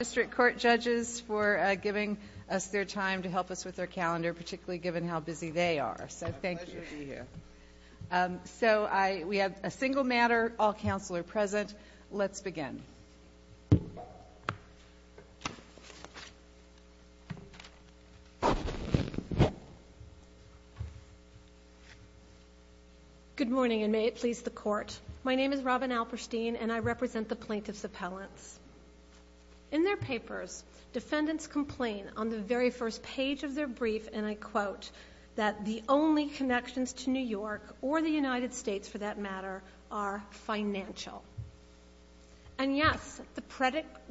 District Court Judges for giving us their time to help us with our calendar, particularly given how busy they are. It's a pleasure to be here. So we have a single matter, all counsel are present, let's begin. Good morning and may it please the Court. My name is Robin Alperstein and I represent the Plaintiff's Appellants. In their papers, defendants complain on the very first page of their brief and I quote that the only connections to New York or the United States for that matter are financial. And yes, the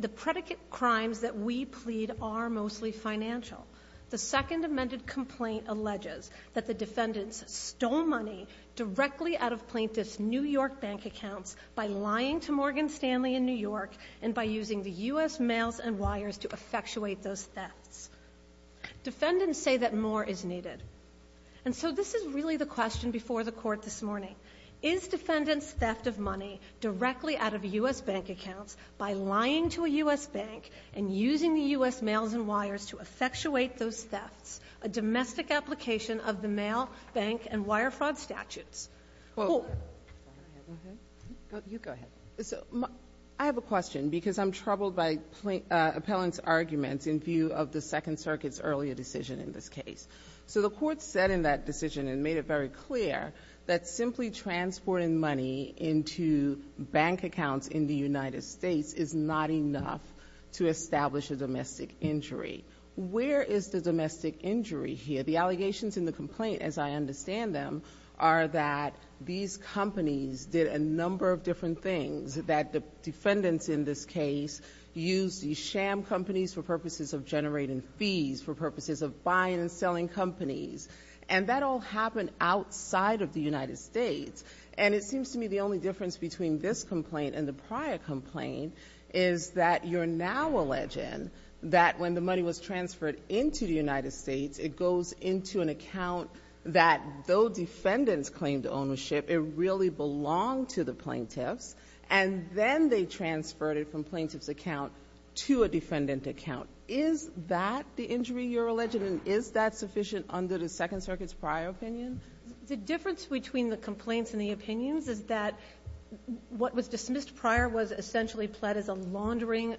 predicate crimes that we plead are mostly financial. The second amended complaint alleges that the defendants stole money directly out of U.S. bank accounts and by using the U.S. mails and wires to effectuate those thefts. Defendants say that more is needed. And so this is really the question before the Court this morning. Is defendant's theft of money directly out of U.S. bank accounts by lying to a U.S. bank and using the U.S. mails and wires to effectuate those thefts a domestic application of the mail, bank and wire fraud statutes? Well, I have a question because I'm troubled by Appellant's arguments in view of the Second Circuit's earlier decision in this case. So the Court said in that decision and made it very clear that simply transporting money into bank accounts in the United States is not enough to establish a domestic injury. Where is the domestic injury here? The allegations in the complaint, as I understand them, are that these companies did a number of different things, that the defendants in this case used these sham companies for purposes of generating fees, for purposes of buying and selling companies. And that all happened outside of the United States. And it seems to me the only difference between this complaint and the prior complaint is that you're now alleging that when the money was transferred into the United States, it goes into an account that, though defendants claimed ownership, it really belonged to the plaintiffs, and then they transferred it from plaintiff's account to a defendant account. Is that the injury you're alleging, and is that sufficient under the Second Circuit's prior opinion? The difference between the complaints and the opinions is that what was dismissed prior was essentially pled as a laundering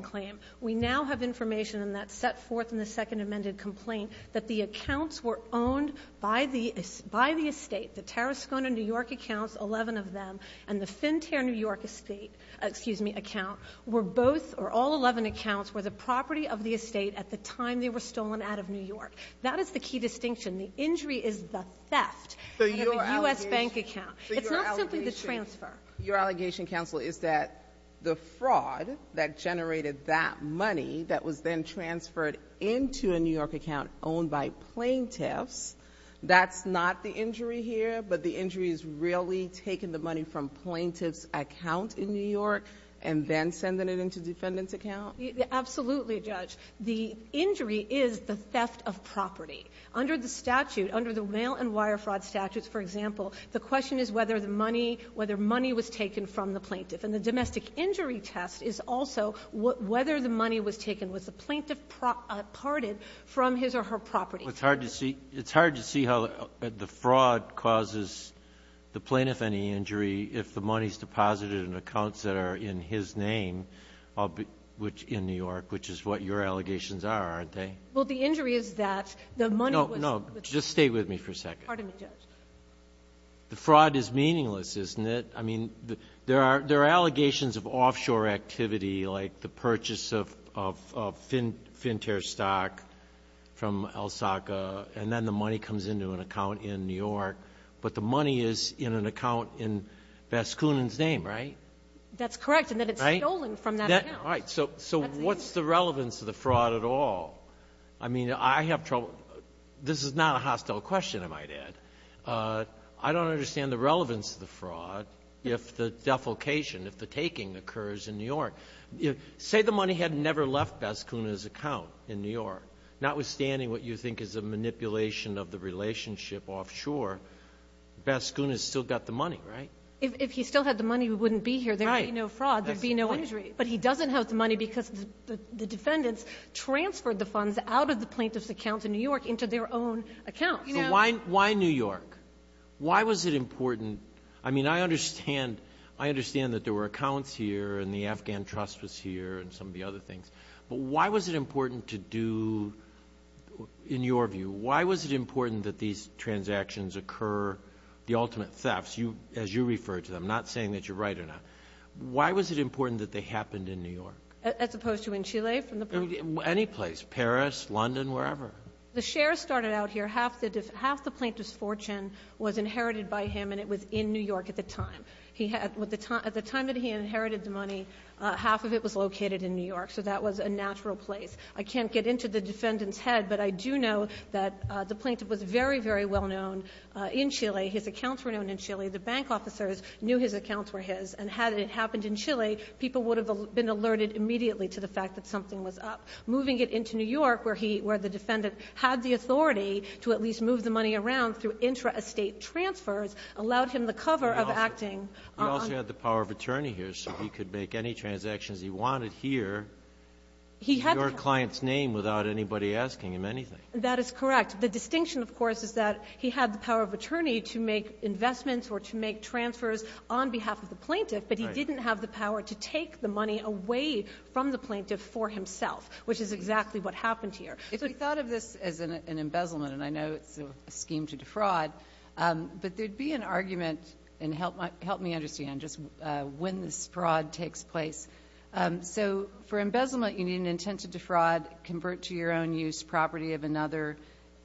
claim. We now have information in that set forth in the Second Amended Complaint that the accounts were owned by the estate, the Tarascona, New York, accounts, 11 of them, and the Finterre, New York, estate — excuse me, account, were both — or all 11 accounts were the property of the estate at the time they were stolen out of New York. That is the key distinction. The injury is the theft out of a U.S. bank account. It's not simply the transfer. Your allegation, counsel, is that the fraud that generated that money that was then transferred into a New York account owned by plaintiffs, that's not the injury here, but the injury is really taking the money from plaintiff's account in New York and then sending it into defendant's account? Absolutely, Judge. The injury is the theft of property. Under the statute, under the mail and wire fraud statutes, for example, the question is whether the money — whether money was taken from the plaintiff. And the domestic injury test is also whether the money was taken, was the plaintiff parted from his or her property. Well, it's hard to see — it's hard to see how the fraud causes the plaintiff any injury if the money is deposited in accounts that are in his name, which — in New York, which is what your allegations are, aren't they? Well, the injury is that the money was — Just stay with me for a second. Pardon me, Judge. The fraud is meaningless, isn't it? I mean, there are allegations of offshore activity, like the purchase of Finterre stock from El Saca, and then the money comes into an account in New York. But the money is in an account in Vasconin's name, right? That's correct. And then it's stolen from that account. Right. So what's the relevance of the fraud at all? I mean, I have trouble — this is not a hostile question, I might add. I don't understand the relevance of the fraud if the defalcation, if the taking occurs in New York. Say the money had never left Vasconin's account in New York. Notwithstanding what you think is a manipulation of the relationship offshore, Vasconin's still got the money, right? If he still had the money, we wouldn't be here. There would be no fraud. There would be no injury. But he doesn't have the money because the defendants transferred the funds out of the plaintiff's account in New York into their own account. So why New York? Why was it important — I mean, I understand that there were accounts here and the Afghan trust was here and some of the other things. But why was it important to do — in your view, why was it important that these transactions occur, the ultimate thefts, as you refer to them, not saying that you're right or not. Why was it important that they happened in New York? As opposed to in Chile from the — Anyplace. Paris, London, wherever. The shares started out here. Half the plaintiff's fortune was inherited by him, and it was in New York at the time. He had — at the time that he inherited the money, half of it was located in New York. So that was a natural place. I can't get into the defendant's head, but I do know that the plaintiff was very, very well known in Chile. His accounts were known in Chile. The bank officers knew his accounts were his. And had it happened in Chile, people would have been alerted immediately to the fact that something was up. Moving it into New York, where he — where the defendant had the authority to at least move the money around through intra-estate transfers allowed him the cover of acting on — He also had the power of attorney here, so he could make any transactions he wanted here in your client's name without anybody asking him anything. That is correct. The distinction, of course, is that he had the power of attorney to make investments or to make transfers on behalf of the plaintiff, but he didn't have the power to take the money away from the plaintiff for himself. Which is exactly what happened here. If we thought of this as an embezzlement, and I know it's a scheme to defraud, but there'd be an argument — and help me understand just when this fraud takes place. So for embezzlement, you need an intent to defraud, convert to your own use property of another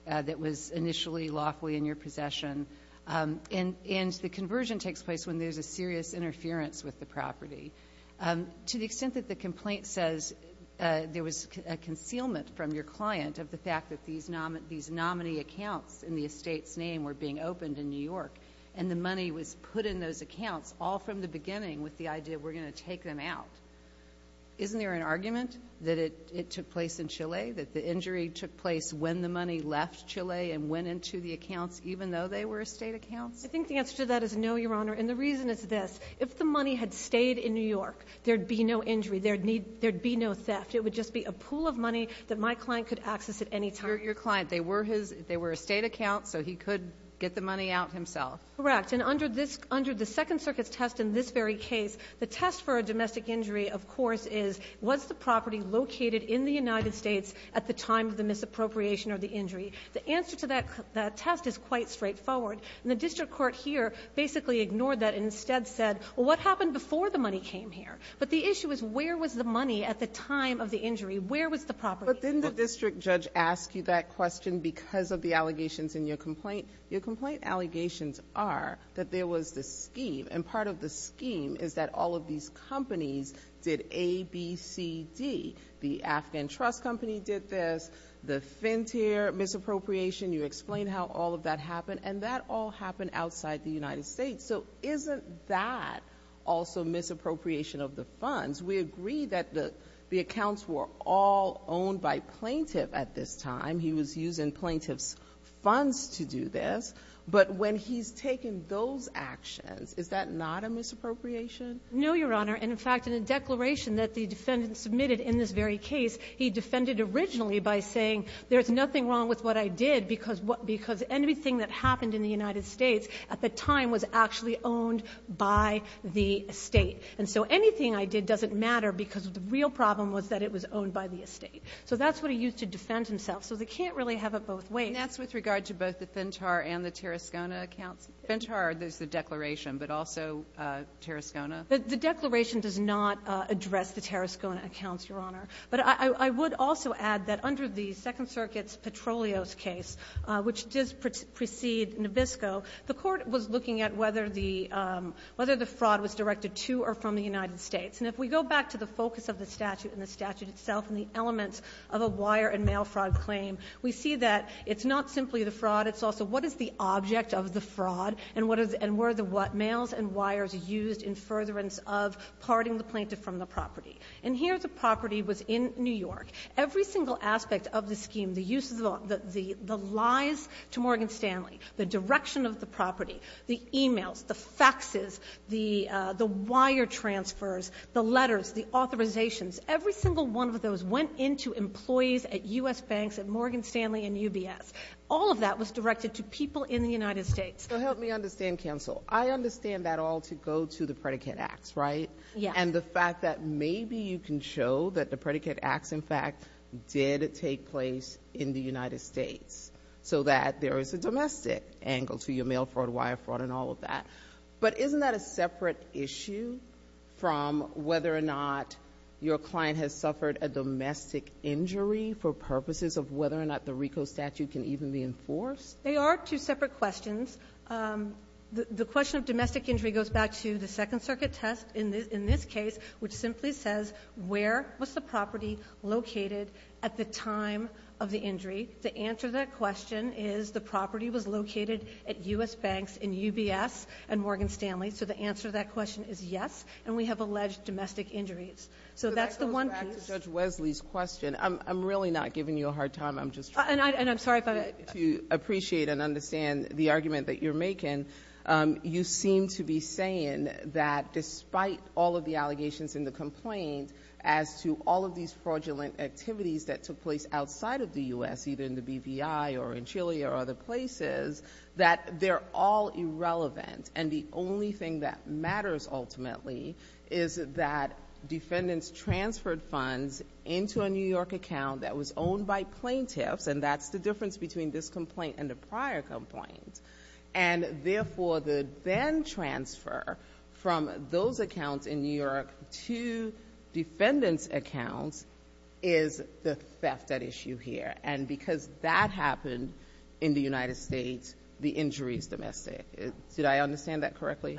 that was initially lawfully in your possession. And the conversion takes place when there's a serious interference with the property. To the extent that the complaint says there was a concealment from your client of the fact that these nominee accounts in the estate's name were being opened in New York, and the money was put in those accounts all from the beginning with the idea, we're going to take them out. Isn't there an argument that it took place in Chile? That the injury took place when the money left Chile and went into the accounts, even though they were estate accounts? I think the answer to that is no, Your Honor, and the reason is this. If the money had stayed in New York, there'd be no injury. There'd be no theft. It would just be a pool of money that my client could access at any time. Your client, they were his — they were estate accounts, so he could get the money out himself. Correct. And under this — under the Second Circuit's test in this very case, the test for a domestic injury, of course, is was the property located in the United States at the time of the misappropriation or the injury? The answer to that test is quite straightforward. The district court here basically ignored that and instead said, well, what happened before the money came here? But the issue is where was the money at the time of the injury? Where was the property? But didn't the district judge ask you that question because of the allegations in your complaint? Your complaint allegations are that there was this scheme, and part of the scheme is that all of these companies did A, B, C, D. The Afghan Trust Company did this. The Fintier misappropriation, you explained how all of that happened. And that all happened outside the United States. So isn't that also misappropriation of the funds? We agree that the accounts were all owned by plaintiff at this time. He was using plaintiff's funds to do this. But when he's taken those actions, is that not a misappropriation? No, Your Honor. And, in fact, in a declaration that the defendant submitted in this very case, he defended originally by saying there's nothing wrong with what I did because — because anything that happened in the United States at the time was actually owned by the estate. And so anything I did doesn't matter because the real problem was that it was owned by the estate. So that's what he used to defend himself. So they can't really have it both ways. And that's with regard to both the Fintier and the Terrascona accounts? Fintier, there's the declaration, but also Terrascona? The declaration does not address the Terrascona accounts, Your Honor. But I would also add that under the Second Circuit's Petrolios case, which did precede Nabisco, the Court was looking at whether the — whether the fraud was directed to or from the United States. And if we go back to the focus of the statute and the statute itself and the elements of a wire and mail fraud claim, we see that it's not simply the fraud. It's also what is the object of the fraud, and what is — and were the mails and wires used in furtherance of parting the plaintiff from the property? And here the property was in New York. Every single aspect of the scheme, the uses of — the lies to Morgan Stanley, the direction of the property, the emails, the faxes, the wire transfers, the letters, the authorizations, every single one of those went into employees at U.S. banks at Morgan Stanley and UBS. All of that was directed to people in the United States. So help me understand, counsel. I understand that all to go to the predicate acts, right? Yeah. And the fact that maybe you can show that the predicate acts, in fact, did take place in the United States, so that there is a domestic angle to your mail fraud, wire fraud, and all of that. But isn't that a separate issue from whether or not your client has suffered a domestic injury for purposes of whether or not the RICO statute can even be enforced? They are two separate questions. The question of domestic injury goes back to the Second Circuit test in this case, which simply says where was the property located at the time of the injury. The answer to that question is the property was located at U.S. banks in UBS and Morgan Stanley. So the answer to that question is yes, and we have alleged domestic injuries. So that's the one piece. So that goes back to Judge Wesley's question. I'm really not giving you a hard time. I'm just trying to — And I'm sorry, but —— to appreciate and understand the argument that you're making. You seem to be saying that despite all of the allegations in the complaint as to all of these fraudulent activities that took place outside of the U.S., either in the BVI or in Chile or other places, that they're all irrelevant. And the only thing that matters, ultimately, is that defendants transferred funds into a New York account that was owned by plaintiffs, and that's the difference between this complaint and the prior complaint. And therefore, the then-transfer from those accounts in New York to defendants' accounts is the theft at issue here. And because that happened in the United States, the injury is domestic. Did I understand that correctly?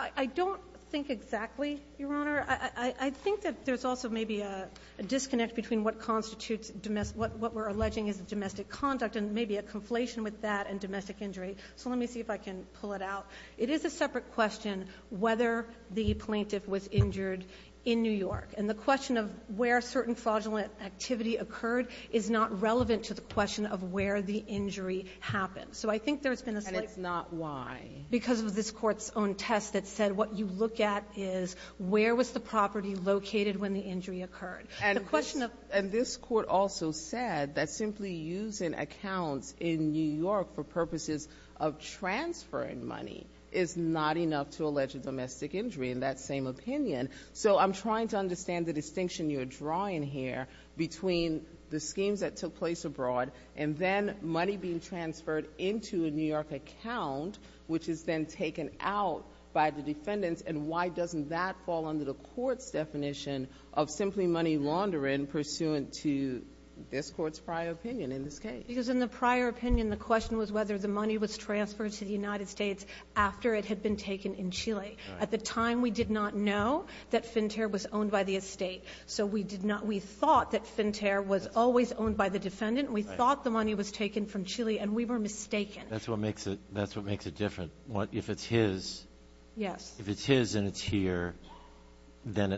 I don't think exactly, Your Honor. I think that there's also maybe a disconnect between what constitutes — what we're alleging is a domestic conduct and maybe a conflation with that and domestic injury. So let me see if I can pull it out. It is a separate question whether the plaintiff was injured in New York. And the question of where certain fraudulent activity occurred is not relevant to the question of where the injury happened. So I think there's been a — And it's not why. Because of this Court's own test that said what you look at is where was the property located when the injury occurred. And the question of — And this Court also said that simply using accounts in New York for purposes of transferring money is not enough to allege a domestic injury, in that same opinion. So I'm trying to understand the distinction you're drawing here between the schemes that is then taken out by the defendants, and why doesn't that fall under the Court's definition of simply money laundering pursuant to this Court's prior opinion in this case? Because in the prior opinion, the question was whether the money was transferred to the United States after it had been taken in Chile. At the time, we did not know that Finterre was owned by the estate. So we did not — we thought that Finterre was always owned by the defendant. We thought the money was taken from Chile. And we were mistaken. That's what makes it — that's what makes it different. What — if it's his — Yes. If it's his and it's here, then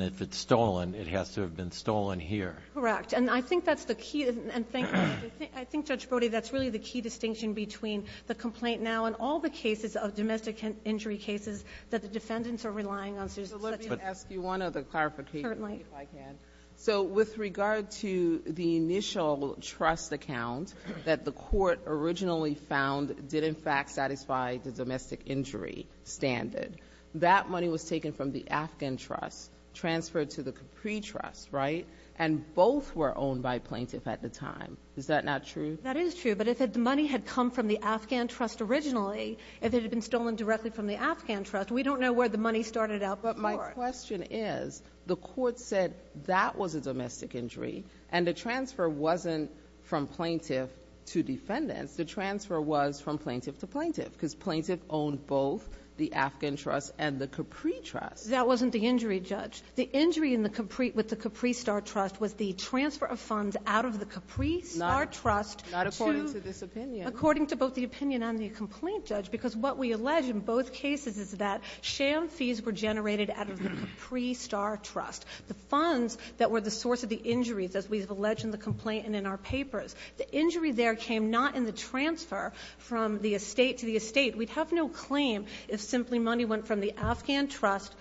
if it's stolen, it has to have been stolen here. Correct. And I think that's the key — and thank — I think, Judge Brody, that's really the key distinction between the complaint now and all the cases of domestic injury cases that the defendants are relying on. So let me ask you one other clarification, if I can. Certainly. So with regard to the initial trust account that the court originally found did, in fact, satisfy the domestic injury standard, that money was taken from the Afghan trust, transferred to the Capri trust, right? And both were owned by plaintiff at the time. Is that not true? That is true. But if the money had come from the Afghan trust originally, if it had been stolen directly from the Afghan trust, we don't know where the money started out before. The question is, the court said that was a domestic injury, and the transfer wasn't from plaintiff to defendants. The transfer was from plaintiff to plaintiff, because plaintiff owned both the Afghan trust and the Capri trust. That wasn't the injury, Judge. The injury in the Capri — with the Capri Star Trust was the transfer of funds out of the Capri Star Trust to — Not according to this opinion. According to both the opinion and the complaint, Judge, because what we allege in both cases is that sham fees were generated out of the Capri Star Trust, the funds that were the source of the injuries, as we have alleged in the complaint and in our papers. The injury there came not in the transfer from the estate to the estate. We'd have no claim if simply money went from the Afghan trust,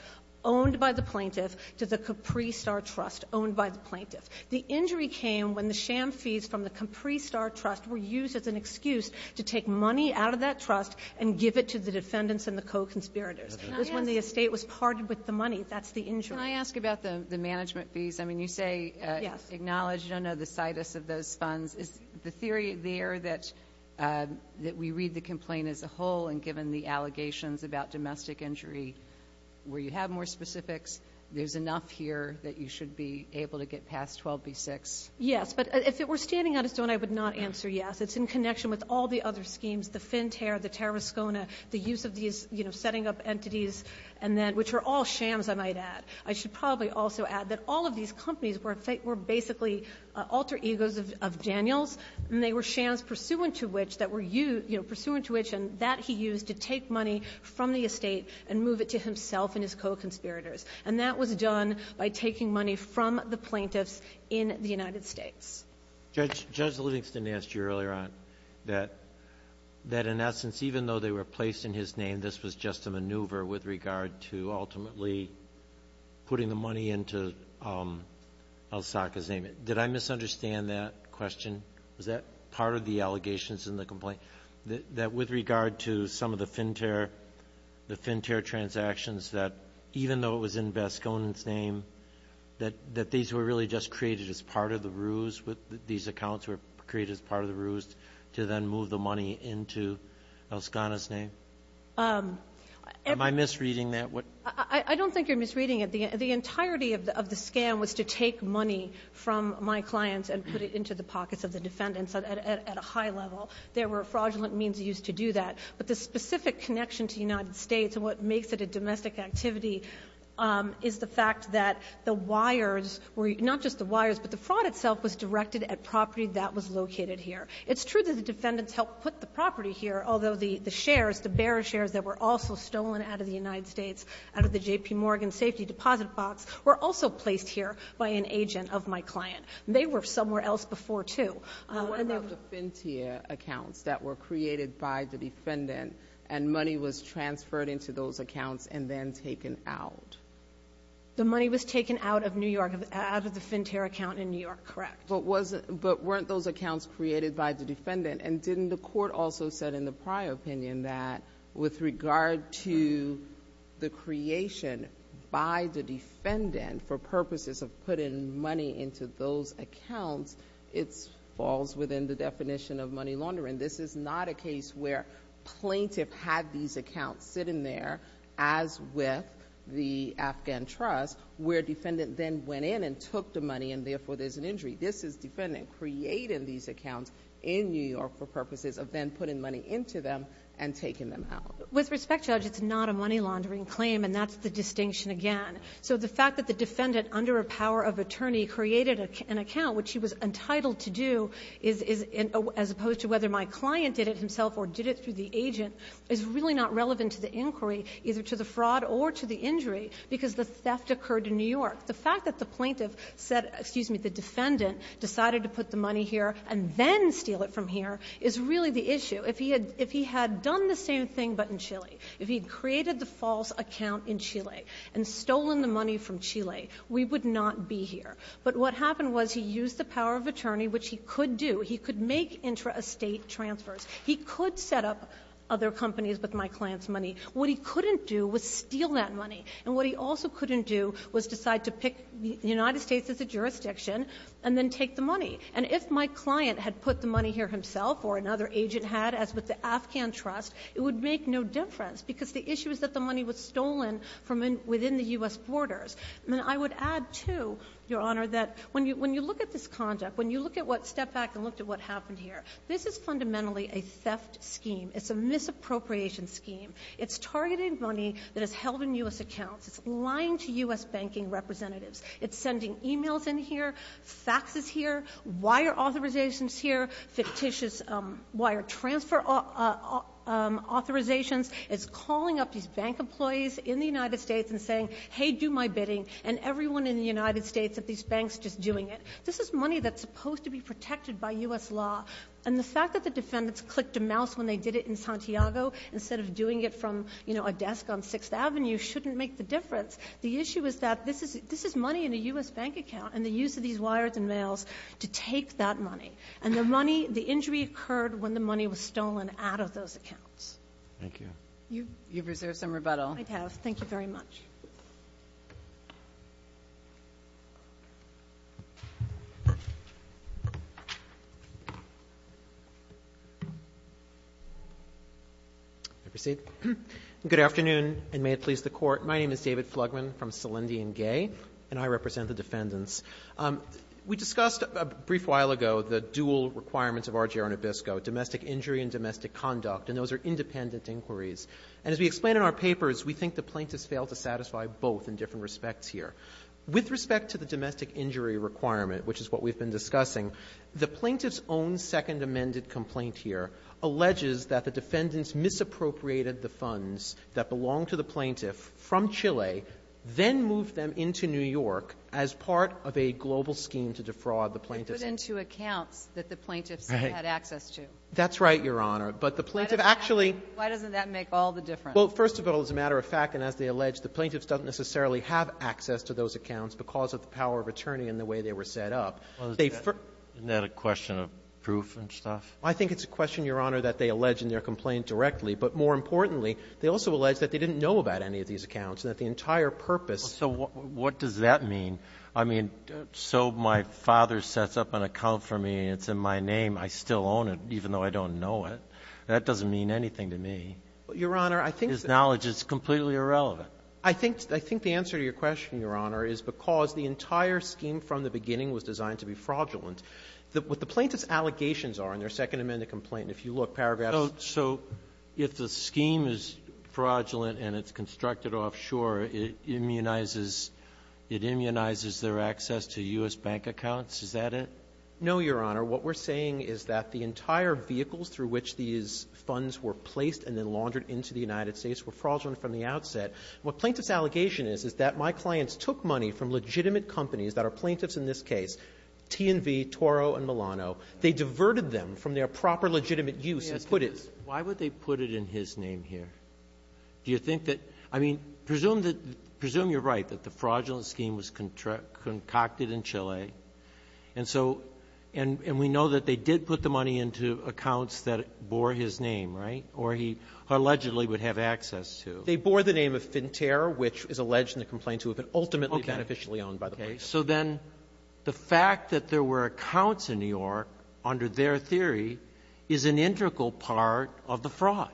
owned by the plaintiff, to the Capri Star Trust, owned by the plaintiff. The injury came when the sham fees from the Capri Star Trust were used as an excuse to take money out of that trust and give it to the defendants and the co-conspirators. It was when the estate was parted with the money. That's the injury. Can I ask about the management fees? I mean, you say — Yes. — acknowledge. You don't know the situs of those funds. Is the theory there that we read the complaint as a whole, and given the allegations about domestic injury, where you have more specifics, there's enough here that you should be able to get past 12b-6? Yes. But if it were standing on its own, I would not answer yes. It's in connection with all the other schemes, the FinTERR, the Terrascona, the use of these, you know, setting up entities, and then — which are all shams, I might add. I should probably also add that all of these companies were basically alter egos of Daniel's, and they were shams pursuant to which — that were, you know, pursuant to which, and that he used to take money from the estate and move it to himself and his co-conspirators. And that was done by taking money from the plaintiffs in the United States. Judge, Judge Livingston asked you earlier on that, that in essence, even though they were placed in his name, this was just a maneuver with regard to ultimately putting the money into El Saca's name. Did I misunderstand that question? Was that part of the allegations in the complaint, that with regard to some of the FinTERR, the FinTERR transactions, that even though it was in Vasconen's name, that these were really just created as part of the ruse, that these accounts were created as part of the ruse to then move the money into Vasconen's name? Am I misreading that? I don't think you're misreading it. The entirety of the scam was to take money from my clients and put it into the pockets of the defendants at a high level. There were fraudulent means used to do that. But the specific connection to the United States and what makes it a domestic activity is the fact that the wires were, not just the wires, but the fraud itself was directed at property that was located here. It's true that the defendants helped put the property here, although the shares, the bearer shares that were also stolen out of the United States, out of the J.P. Morgan safety deposit box, were also placed here by an agent of my client. They were somewhere else before, too. Well, what about the FinTERR accounts that were created by the defendant and money was then taken out? The money was taken out of New York, out of the FinTERR account in New York, correct? But weren't those accounts created by the defendant? And didn't the court also said in the prior opinion that with regard to the creation by the defendant for purposes of putting money into those accounts, it falls within the definition of money laundering. And this is not a case where plaintiff had these accounts sitting there, as with the Afghan trust, where defendant then went in and took the money and therefore there's an injury. This is defendant creating these accounts in New York for purposes of then putting money into them and taking them out. With respect, Judge, it's not a money laundering claim and that's the distinction again. So the fact that the defendant under a power of attorney created an account, which he was client did it himself or did it through the agent is really not relevant to the inquiry, either to the fraud or to the injury, because the theft occurred in New York. The fact that the plaintiff said, excuse me, the defendant decided to put the money here and then steal it from here is really the issue. If he had done the same thing but in Chile, if he created the false account in Chile and stolen the money from Chile, we would not be here. But what happened was he used the power of attorney, which he could do. He could make intra-estate transfers. He could set up other companies with my client's money. What he couldn't do was steal that money. And what he also couldn't do was decide to pick the United States as a jurisdiction and then take the money. And if my client had put the money here himself or another agent had, as with the Afghan trust, it would make no difference because the issue is that the money was stolen from within the U.S. borders. And I would add, too, Your Honor, that when you look at this conduct, when you look at what stepped back and looked at what happened here, this is fundamentally a theft scheme. It's a misappropriation scheme. It's targeted money that is held in U.S. accounts. It's lying to U.S. banking representatives. It's sending e-mails in here, faxes here, wire authorizations here, fictitious wire transfer authorizations. It's calling up these bank employees in the United States and saying, hey, do my bidding, and everyone in the United States at these banks just doing it. This is money that's supposed to be protected by U.S. law. And the fact that the defendants clicked a mouse when they did it in Santiago instead of doing it from, you know, a desk on Sixth Avenue shouldn't make the difference. The issue is that this is money in a U.S. bank account, and the use of these wires and mails to take that money. And the money, the injury occurred when the money was stolen out of those accounts. Thank you. You've reserved some rebuttal. I have. Thank you very much. I'll proceed. Good afternoon, and may it please the Court. My name is David Flugman from Salendi and Gay, and I represent the defendants. We discussed a brief while ago the dual requirements of RGR and Obispo, domestic injury and domestic conduct, and those are independent inquiries. And as we explain in our papers, we think the plaintiffs failed to satisfy both in different respects here. With respect to the domestic injury requirement, which is what we've been discussing, the plaintiff's own second amended complaint here alleges that the defendants misappropriated the funds that belonged to the plaintiff from Chile, then moved them into New York as part of a global scheme to defraud the plaintiffs. It put into accounts that the plaintiffs had access to. That's right, Your Honor. But the plaintiff actually — Why doesn't that make all the difference? Well, first of all, as a matter of fact, and as they allege, the plaintiffs don't necessarily have access to those accounts because of the power of attorney and the way they were set up. Well, isn't that a question of proof and stuff? I think it's a question, Your Honor, that they allege in their complaint directly. But more importantly, they also allege that they didn't know about any of these accounts and that the entire purpose — So what does that mean? I mean, so my father sets up an account for me, and it's in my name. I still own it, even though I don't know it. That doesn't mean anything to me. Your Honor, I think that — His knowledge is completely irrelevant. I think the answer to your question, Your Honor, is because the entire scheme from the beginning was designed to be fraudulent. What the plaintiffs' allegations are in their Second Amendment complaint, and if you look, paragraphs — So if the scheme is fraudulent and it's constructed offshore, it immunizes — it immunizes their access to U.S. bank accounts? Is that it? No, Your Honor. What we're saying is that the entire vehicles through which these funds were placed and then laundered into the United States were fraudulent from the outset. What plaintiffs' allegation is, is that my clients took money from legitimate companies that are plaintiffs in this case, T&V, Toro, and Milano. They diverted them from their proper legitimate use and put it — Let me ask you this. Why would they put it in his name here? Do you think that — I mean, presume that — presume you're right, that the fraudulent scheme was concocted in Chile. Okay. And so — and we know that they did put the money into accounts that bore his name, right, or he allegedly would have access to. They bore the name of Finterre, which is alleged in the complaint to have been ultimately beneficially owned by the plaintiffs. Okay. So then the fact that there were accounts in New York under their theory is an integral part of the fraud,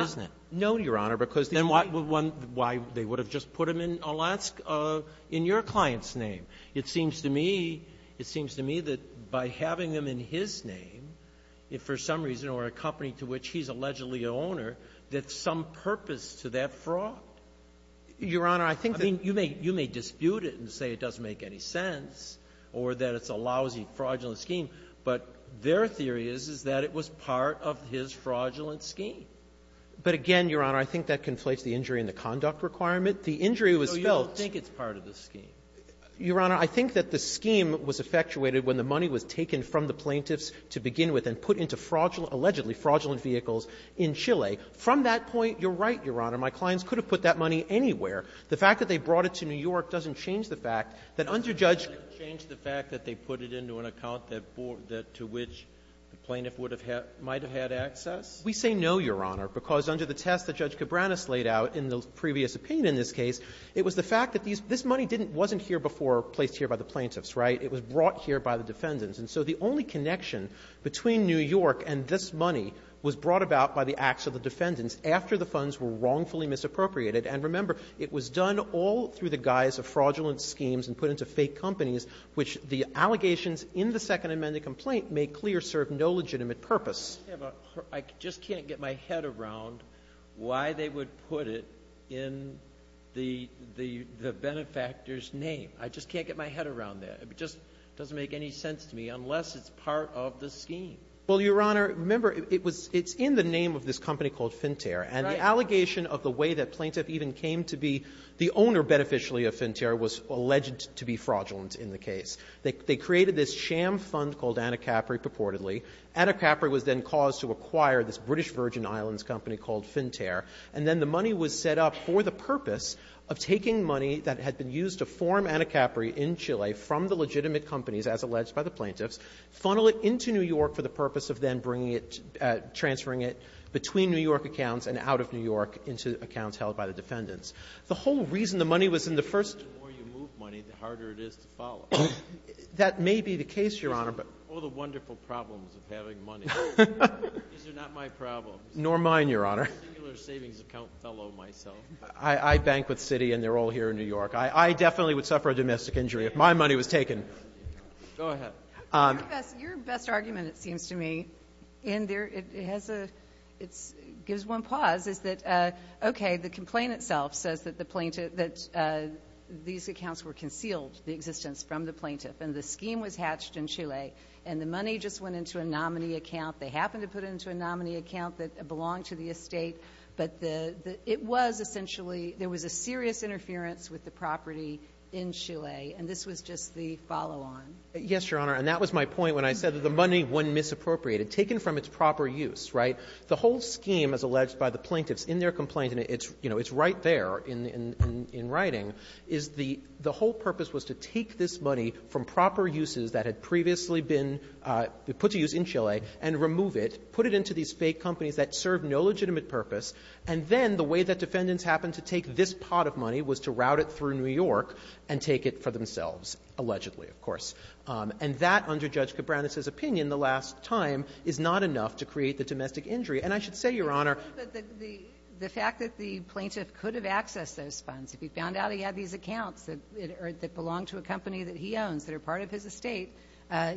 isn't it? No, Your Honor, because the — Then why would one — why they would have just put them in Alaska — in your client's name? It seems to me — it seems to me that by having them in his name, if for some reason or a company to which he's allegedly an owner, that's some purpose to that fraud. Your Honor, I think that — I mean, you may — you may dispute it and say it doesn't make any sense or that it's a lousy, fraudulent scheme, but their theory is, is that it was part of his fraudulent scheme. But again, Your Honor, I think that conflates the injury and the conduct requirement. The injury was built — No, you don't think it's part of the scheme. Your Honor, I think that the scheme was effectuated when the money was taken from the plaintiffs to begin with and put into fraudulent — allegedly fraudulent vehicles in Chile. From that point, you're right, Your Honor. My clients could have put that money anywhere. The fact that they brought it to New York doesn't change the fact that under Judge — It doesn't change the fact that they put it into an account that — to which the plaintiff would have had — might have had access? We say no, Your Honor, because under the test that Judge Cabranes laid out in the This money didn't — wasn't here before placed here by the plaintiffs, right? It was brought here by the defendants. And so the only connection between New York and this money was brought about by the acts of the defendants after the funds were wrongfully misappropriated. And remember, it was done all through the guise of fraudulent schemes and put into fake companies, which the allegations in the Second Amendment complaint make clear serve no legitimate purpose. I just can't get my head around why they would put it in the benefactor's name. I just can't get my head around that. It just doesn't make any sense to me, unless it's part of the scheme. Well, Your Honor, remember, it was — it's in the name of this company called Finterre. Right. And the allegation of the way that plaintiff even came to be the owner, beneficially, of Finterre was alleged to be fraudulent in the case. They created this sham fund called Anacapri purportedly. Anacapri was then caused to acquire this British Virgin Islands company called Finterre. And then the money was set up for the purpose of taking money that had been used to form Anacapri in Chile from the legitimate companies, as alleged by the plaintiffs, funnel it into New York for the purpose of then bringing it — transferring it between New York accounts and out of New York into accounts held by the defendants. The whole reason the money was in the first — The more you move money, the harder it is to follow. That may be the case, Your Honor, but — All the wonderful problems of having money. These are not my problems. Nor mine, Your Honor. I'm a singular savings account fellow myself. I bank with Citi, and they're all here in New York. I definitely would suffer a domestic injury if my money was taken. Go ahead. Your best argument, it seems to me, in their — it has a — it gives one pause, is that, okay, the complaint itself says that the plaintiff — that these accounts were concealed, the existence, from the plaintiff, and the scheme was hatched in Chile, and the money just went into a nominee account. They happened to put it into a nominee account that belonged to the estate. But the — it was essentially — there was a serious interference with the property in Chile, and this was just the follow-on. Yes, Your Honor. And that was my point when I said that the money went misappropriated. Taken from its proper use, right? The whole scheme, as alleged by the plaintiffs in their complaint, and it's — you know, it's right there in — in writing, is the — the whole purpose was to take this money from proper uses that had previously been put to use in Chile and remove it, put it into these fake companies that serve no legitimate purpose, and then the way that defendants happened to take this pot of money was to route it through New York and take it for themselves, allegedly, of course. And that, under Judge Cabranes's opinion, the last time, is not enough to create the domestic injury. And I should say, Your Honor — But the — the fact that the plaintiff could have accessed those funds, if he found out he had these accounts that — or that belonged to a company that he owns, that are part of his estate,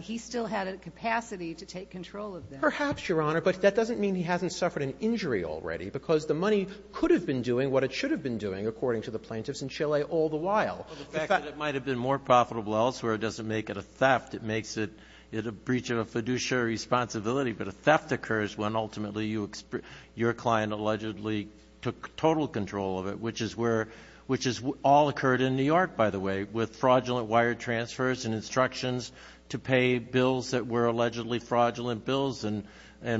he still had a capacity to take control of them. Perhaps, Your Honor. But that doesn't mean he hasn't suffered an injury already, because the money could have been doing what it should have been doing, according to the plaintiffs in Chile, all the while. The fact that it might have been more profitable elsewhere doesn't make it a theft. It makes it a breach of a fiduciary responsibility. But a theft occurs when, ultimately, you — your client allegedly took total control of it, which is where — which has all occurred in New York, by the way, with fraudulent wire transfers and instructions to pay bills that were allegedly fraudulent bills and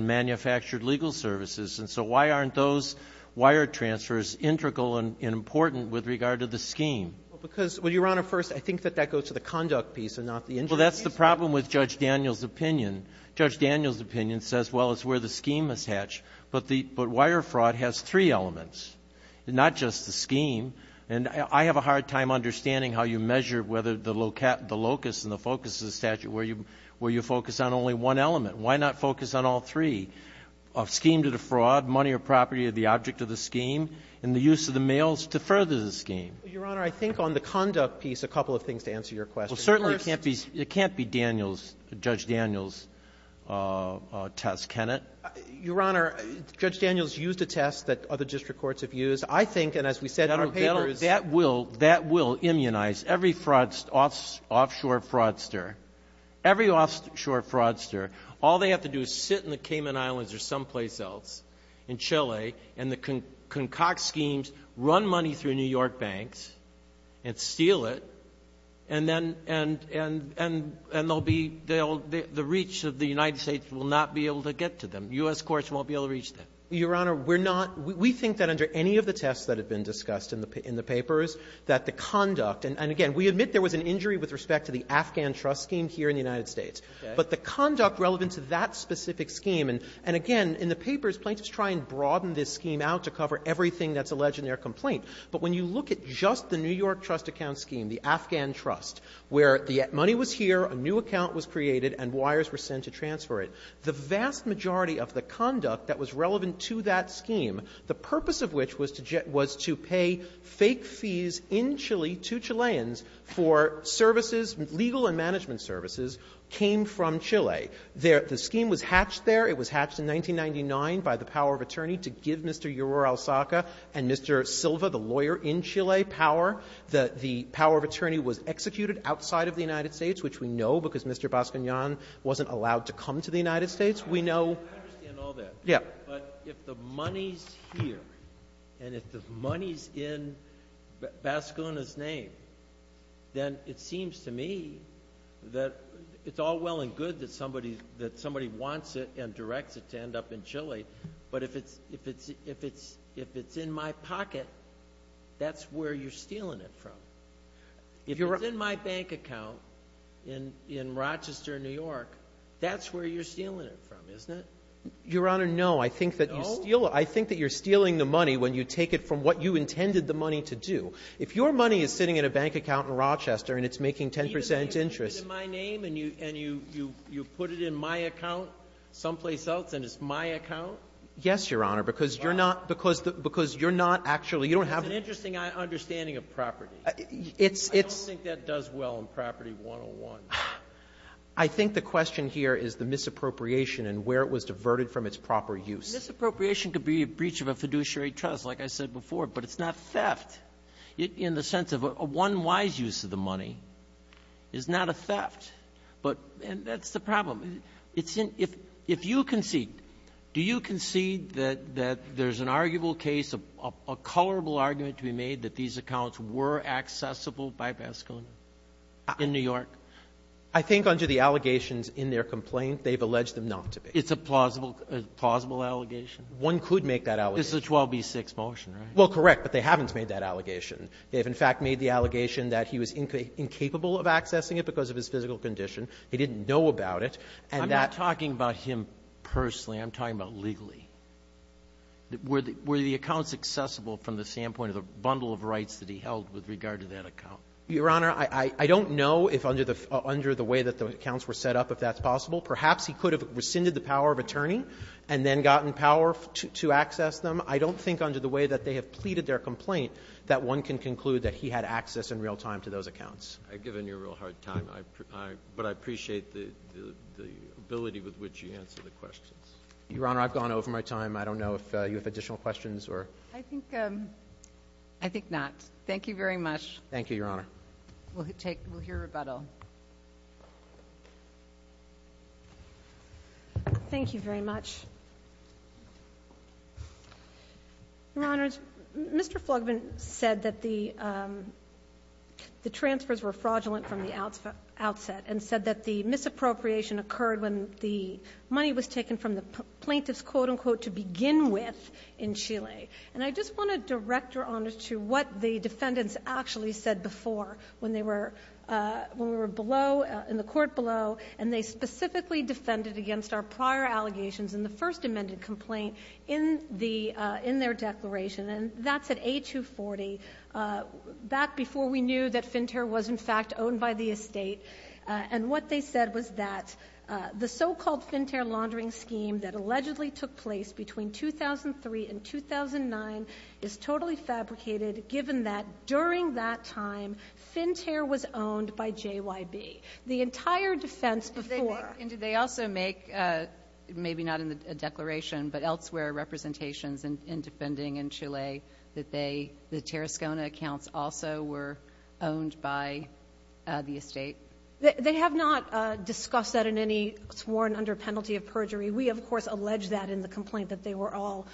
manufactured legal services. And so why aren't those wire transfers integral and important with regard to the scheme? Because — well, Your Honor, first, I think that that goes to the conduct piece and not the injury piece. Well, that's the problem with Judge Daniel's opinion. Judge Daniel's opinion says, well, it's where the scheme is hatched. But the — but wire fraud has three elements. It's not just the scheme. And I have a hard time understanding how you measure whether the locus and the focus of the statute, where you — where you focus on only one element. Why not focus on all three of scheme to the fraud, money or property of the object of the scheme, and the use of the mails to further the scheme? Your Honor, I think on the conduct piece, a couple of things to answer your question. First — Well, certainly it can't be — it can't be Daniel's — Judge Daniel's test, can it? Your Honor, Judge Daniel's used a test that other district courts have used. I think, and as we said in our papers — That will — that will immunize every fraud — offshore fraudster. Every offshore fraudster. All they have to do is sit in the Cayman Islands or someplace else, in Chile, and the concoct schemes, run money through New York banks and steal it, and then they'll be — they'll — the reach of the United States will not be able to get to them. U.S. courts won't be able to reach them. Your Honor, we're not — we think that under any of the tests that have been discussed in the papers, that the conduct — and again, we admit there was an injury with respect to the Afghan trust scheme here in the United States. But the conduct relevant to that specific scheme — and again, in the papers, plaintiffs try and broaden this scheme out to cover everything that's alleged in their complaint. But when you look at just the New York trust account scheme, the Afghan trust, where the money was here, a new account was created, and wires were sent to transfer it, the vast majority of the conduct that was relevant to that scheme, the purpose of which was to — was to pay fake fees in Chile to Chileans for services, legal and management services, came from Chile. The scheme was hatched there. It was hatched in 1999 by the power of attorney to give Mr. Yoror-El-Saka and Mr. Silva, the legal lawyer in Chile, power. The — the power of attorney was executed outside of the United States, which we know because Mr. Baskin-Yon wasn't allowed to come to the United States. We know — Breyer. I understand all that. Goldstein. Yes. Breyer. But if the money's here, and if the money's in Baskin-Yon's name, then it seems to me that it's all well and good that somebody — that somebody wants it and directs it to end up in Chile. But if it's — if it's — if it's — if it's in my pocket, that's where you're stealing it from. If it's in my bank account in — in Rochester, New York, that's where you're stealing it from, isn't it? Goldstein. Your Honor, no. I think that you steal — I think that you're stealing the money when you take it from what you intended the money to do. If your money is sitting in a bank account in Rochester and it's making 10 percent interest — Breyer. Even if you put it in my name and you — and you — you put it in my account someplace else and it's my account? Goldstein. Yes, Your Honor, because you're not — because — because you're not actually — you don't have — Breyer. It's an interesting understanding of property. Goldstein. It's — it's — Breyer. I don't think that does well in Property 101. Goldstein. I think the question here is the misappropriation and where it was diverted from its proper use. Sotomayor. Misappropriation could be a breach of a fiduciary trust, like I said before, but it's not theft in the sense of a one-wise use of the money. It's not a theft. But — and that's the problem. It's in — if — if you concede — do you concede that — that there's an arguable case, a — a colorable argument to be made that these accounts were accessible by Baskin in New York? Goldstein. I think under the allegations in their complaint, they've alleged them not to be. Sotomayor. It's a plausible — a plausible allegation? Goldstein. One could make that allegation. Sotomayor. It's a 12b6 motion, right? Goldstein. Well, correct, but they haven't made that allegation. They have, in fact, made the allegation that he was incapable of accessing it because of his physical condition. He didn't know about it, and that — Sotomayor. I'm not talking about him personally. I'm talking about legally. Were the — were the accounts accessible from the standpoint of the bundle of rights that he held with regard to that account? Goldstein. Your Honor, I — I don't know if under the — under the way that the accounts were set up if that's possible. Perhaps he could have rescinded the power of attorney and then gotten power to — to access them. I don't think under the way that they have pleaded their complaint that one can conclude that he had access in real time to those accounts. Roberts. I've given you a real hard time. I — but I appreciate the — the ability with which you answer the questions. Goldstein. Your Honor, I've gone over my time. I don't know if you have additional questions or — Sotomayor. I think — I think not. Thank you very much. Goldstein. Thank you, Your Honor. Sotomayor. We'll take — we'll hear rebuttal. Thank you very much. Your Honors, Mr. Flugman said that the — the transfers were fraudulent from the outset and said that the misappropriation occurred when the money was taken from the plaintiffs, quote-unquote, to begin with in Chile. And I just want to direct Your Honors to what the defendants actually said before when they were — when we were below — in the court below, and they specifically defended against our prior allegations in the first amended complaint in the — in their declaration. And that's at A240, back before we knew that FinTERR was, in fact, owned by the estate. And what they said was that the so-called FinTERR laundering scheme that allegedly took place between 2003 and 2009 is totally fabricated, given that during that time, FinTERR was owned by JYB. The entire defense before — And did they also make — maybe not in the declaration, but elsewhere — representations in defending in Chile that they — the Terrascona accounts also were owned by the estate? They have not discussed that in any sworn under penalty of perjury. We, of course, allege that in the complaint, that they were all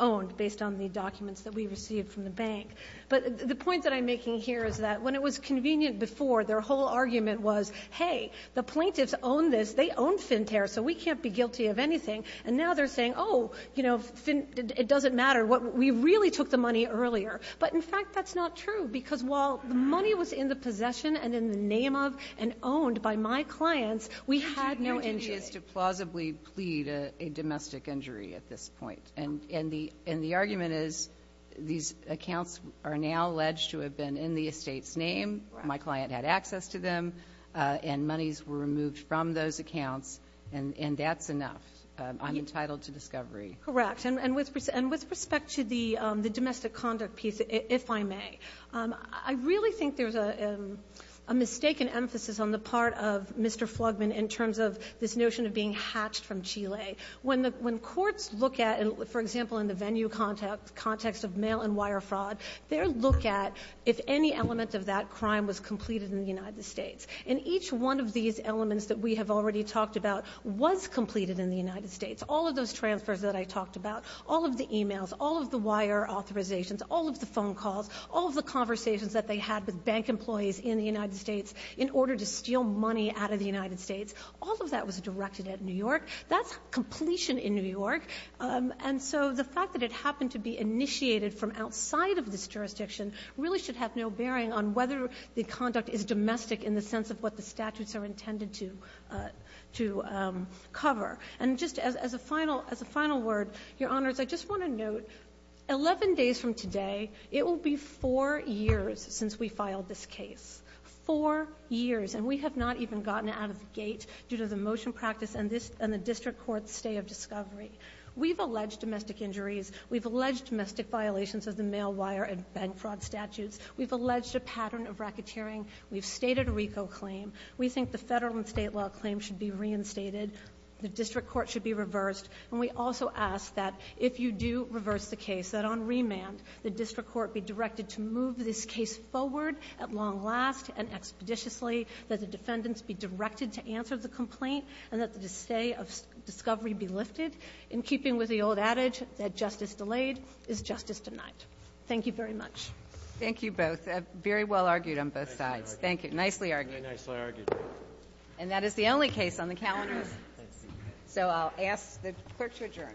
owned, based on the documents that we received from the bank. But the point that I'm making here is that when it was convenient before, their whole argument was, hey, the plaintiffs own this. They own FinTERR, so we can't be guilty of anything. And now they're saying, oh, you know, Fin — it doesn't matter. What — we really took the money earlier. But, in fact, that's not true, because while the money was in the possession and in the name of and owned by my clients, we had no injury. Your duty is to plausibly plead a domestic injury at this point. And the — and the argument is these accounts are now alleged to have been in the estate's name, my client had access to them, and monies were removed from those accounts, and that's enough. I'm entitled to discovery. Correct. And with respect to the domestic conduct piece, if I may, I really think there's a mistaken emphasis on the part of Mr. Flugman in terms of this notion of being hatched from Chile. When the — when courts look at, for example, in the venue context of mail-and-wire fraud, they'll look at if any element of that crime was completed in the United States. And each one of these elements that we have already talked about was completed in the United States. All of those transfers that I talked about, all of the e-mails, all of the wire authorizations, all of the phone calls, all of the conversations that they had with bank employees in the United States in order to steal money out of the United States, all of that was directed at New York. That's completion in New York. And so the fact that it happened to be initiated from outside of this jurisdiction really should have no bearing on whether the conduct is domestic in the sense of what the statutes are intended to — to cover. And just as a final — as a final word, Your Honors, I just want to note, 11 days from today, it will be four years since we filed this case. Four years. And we have not even gotten out of the gate due to the motion practice and this — and the district court's stay of discovery. We've alleged domestic injuries. We've alleged domestic violations of the mail-wire and bank fraud statutes. We've alleged a pattern of racketeering. We've stated a RICO claim. We think the federal and state law claims should be reinstated. The district court should be reversed. And we also ask that if you do reverse the case, that on remand, the district court be directed to move this case forward at long last and expeditiously, that the defendants be directed to answer the complaint, and that the stay of discovery be lifted, in keeping with the old adage that justice delayed is justice denied. Thank you very much. Thank you both. Very well argued on both sides. Thank you. Nicely argued. Very nicely argued. And that is the only case on the calendar. So I'll ask the clerk to adjourn. Thank you.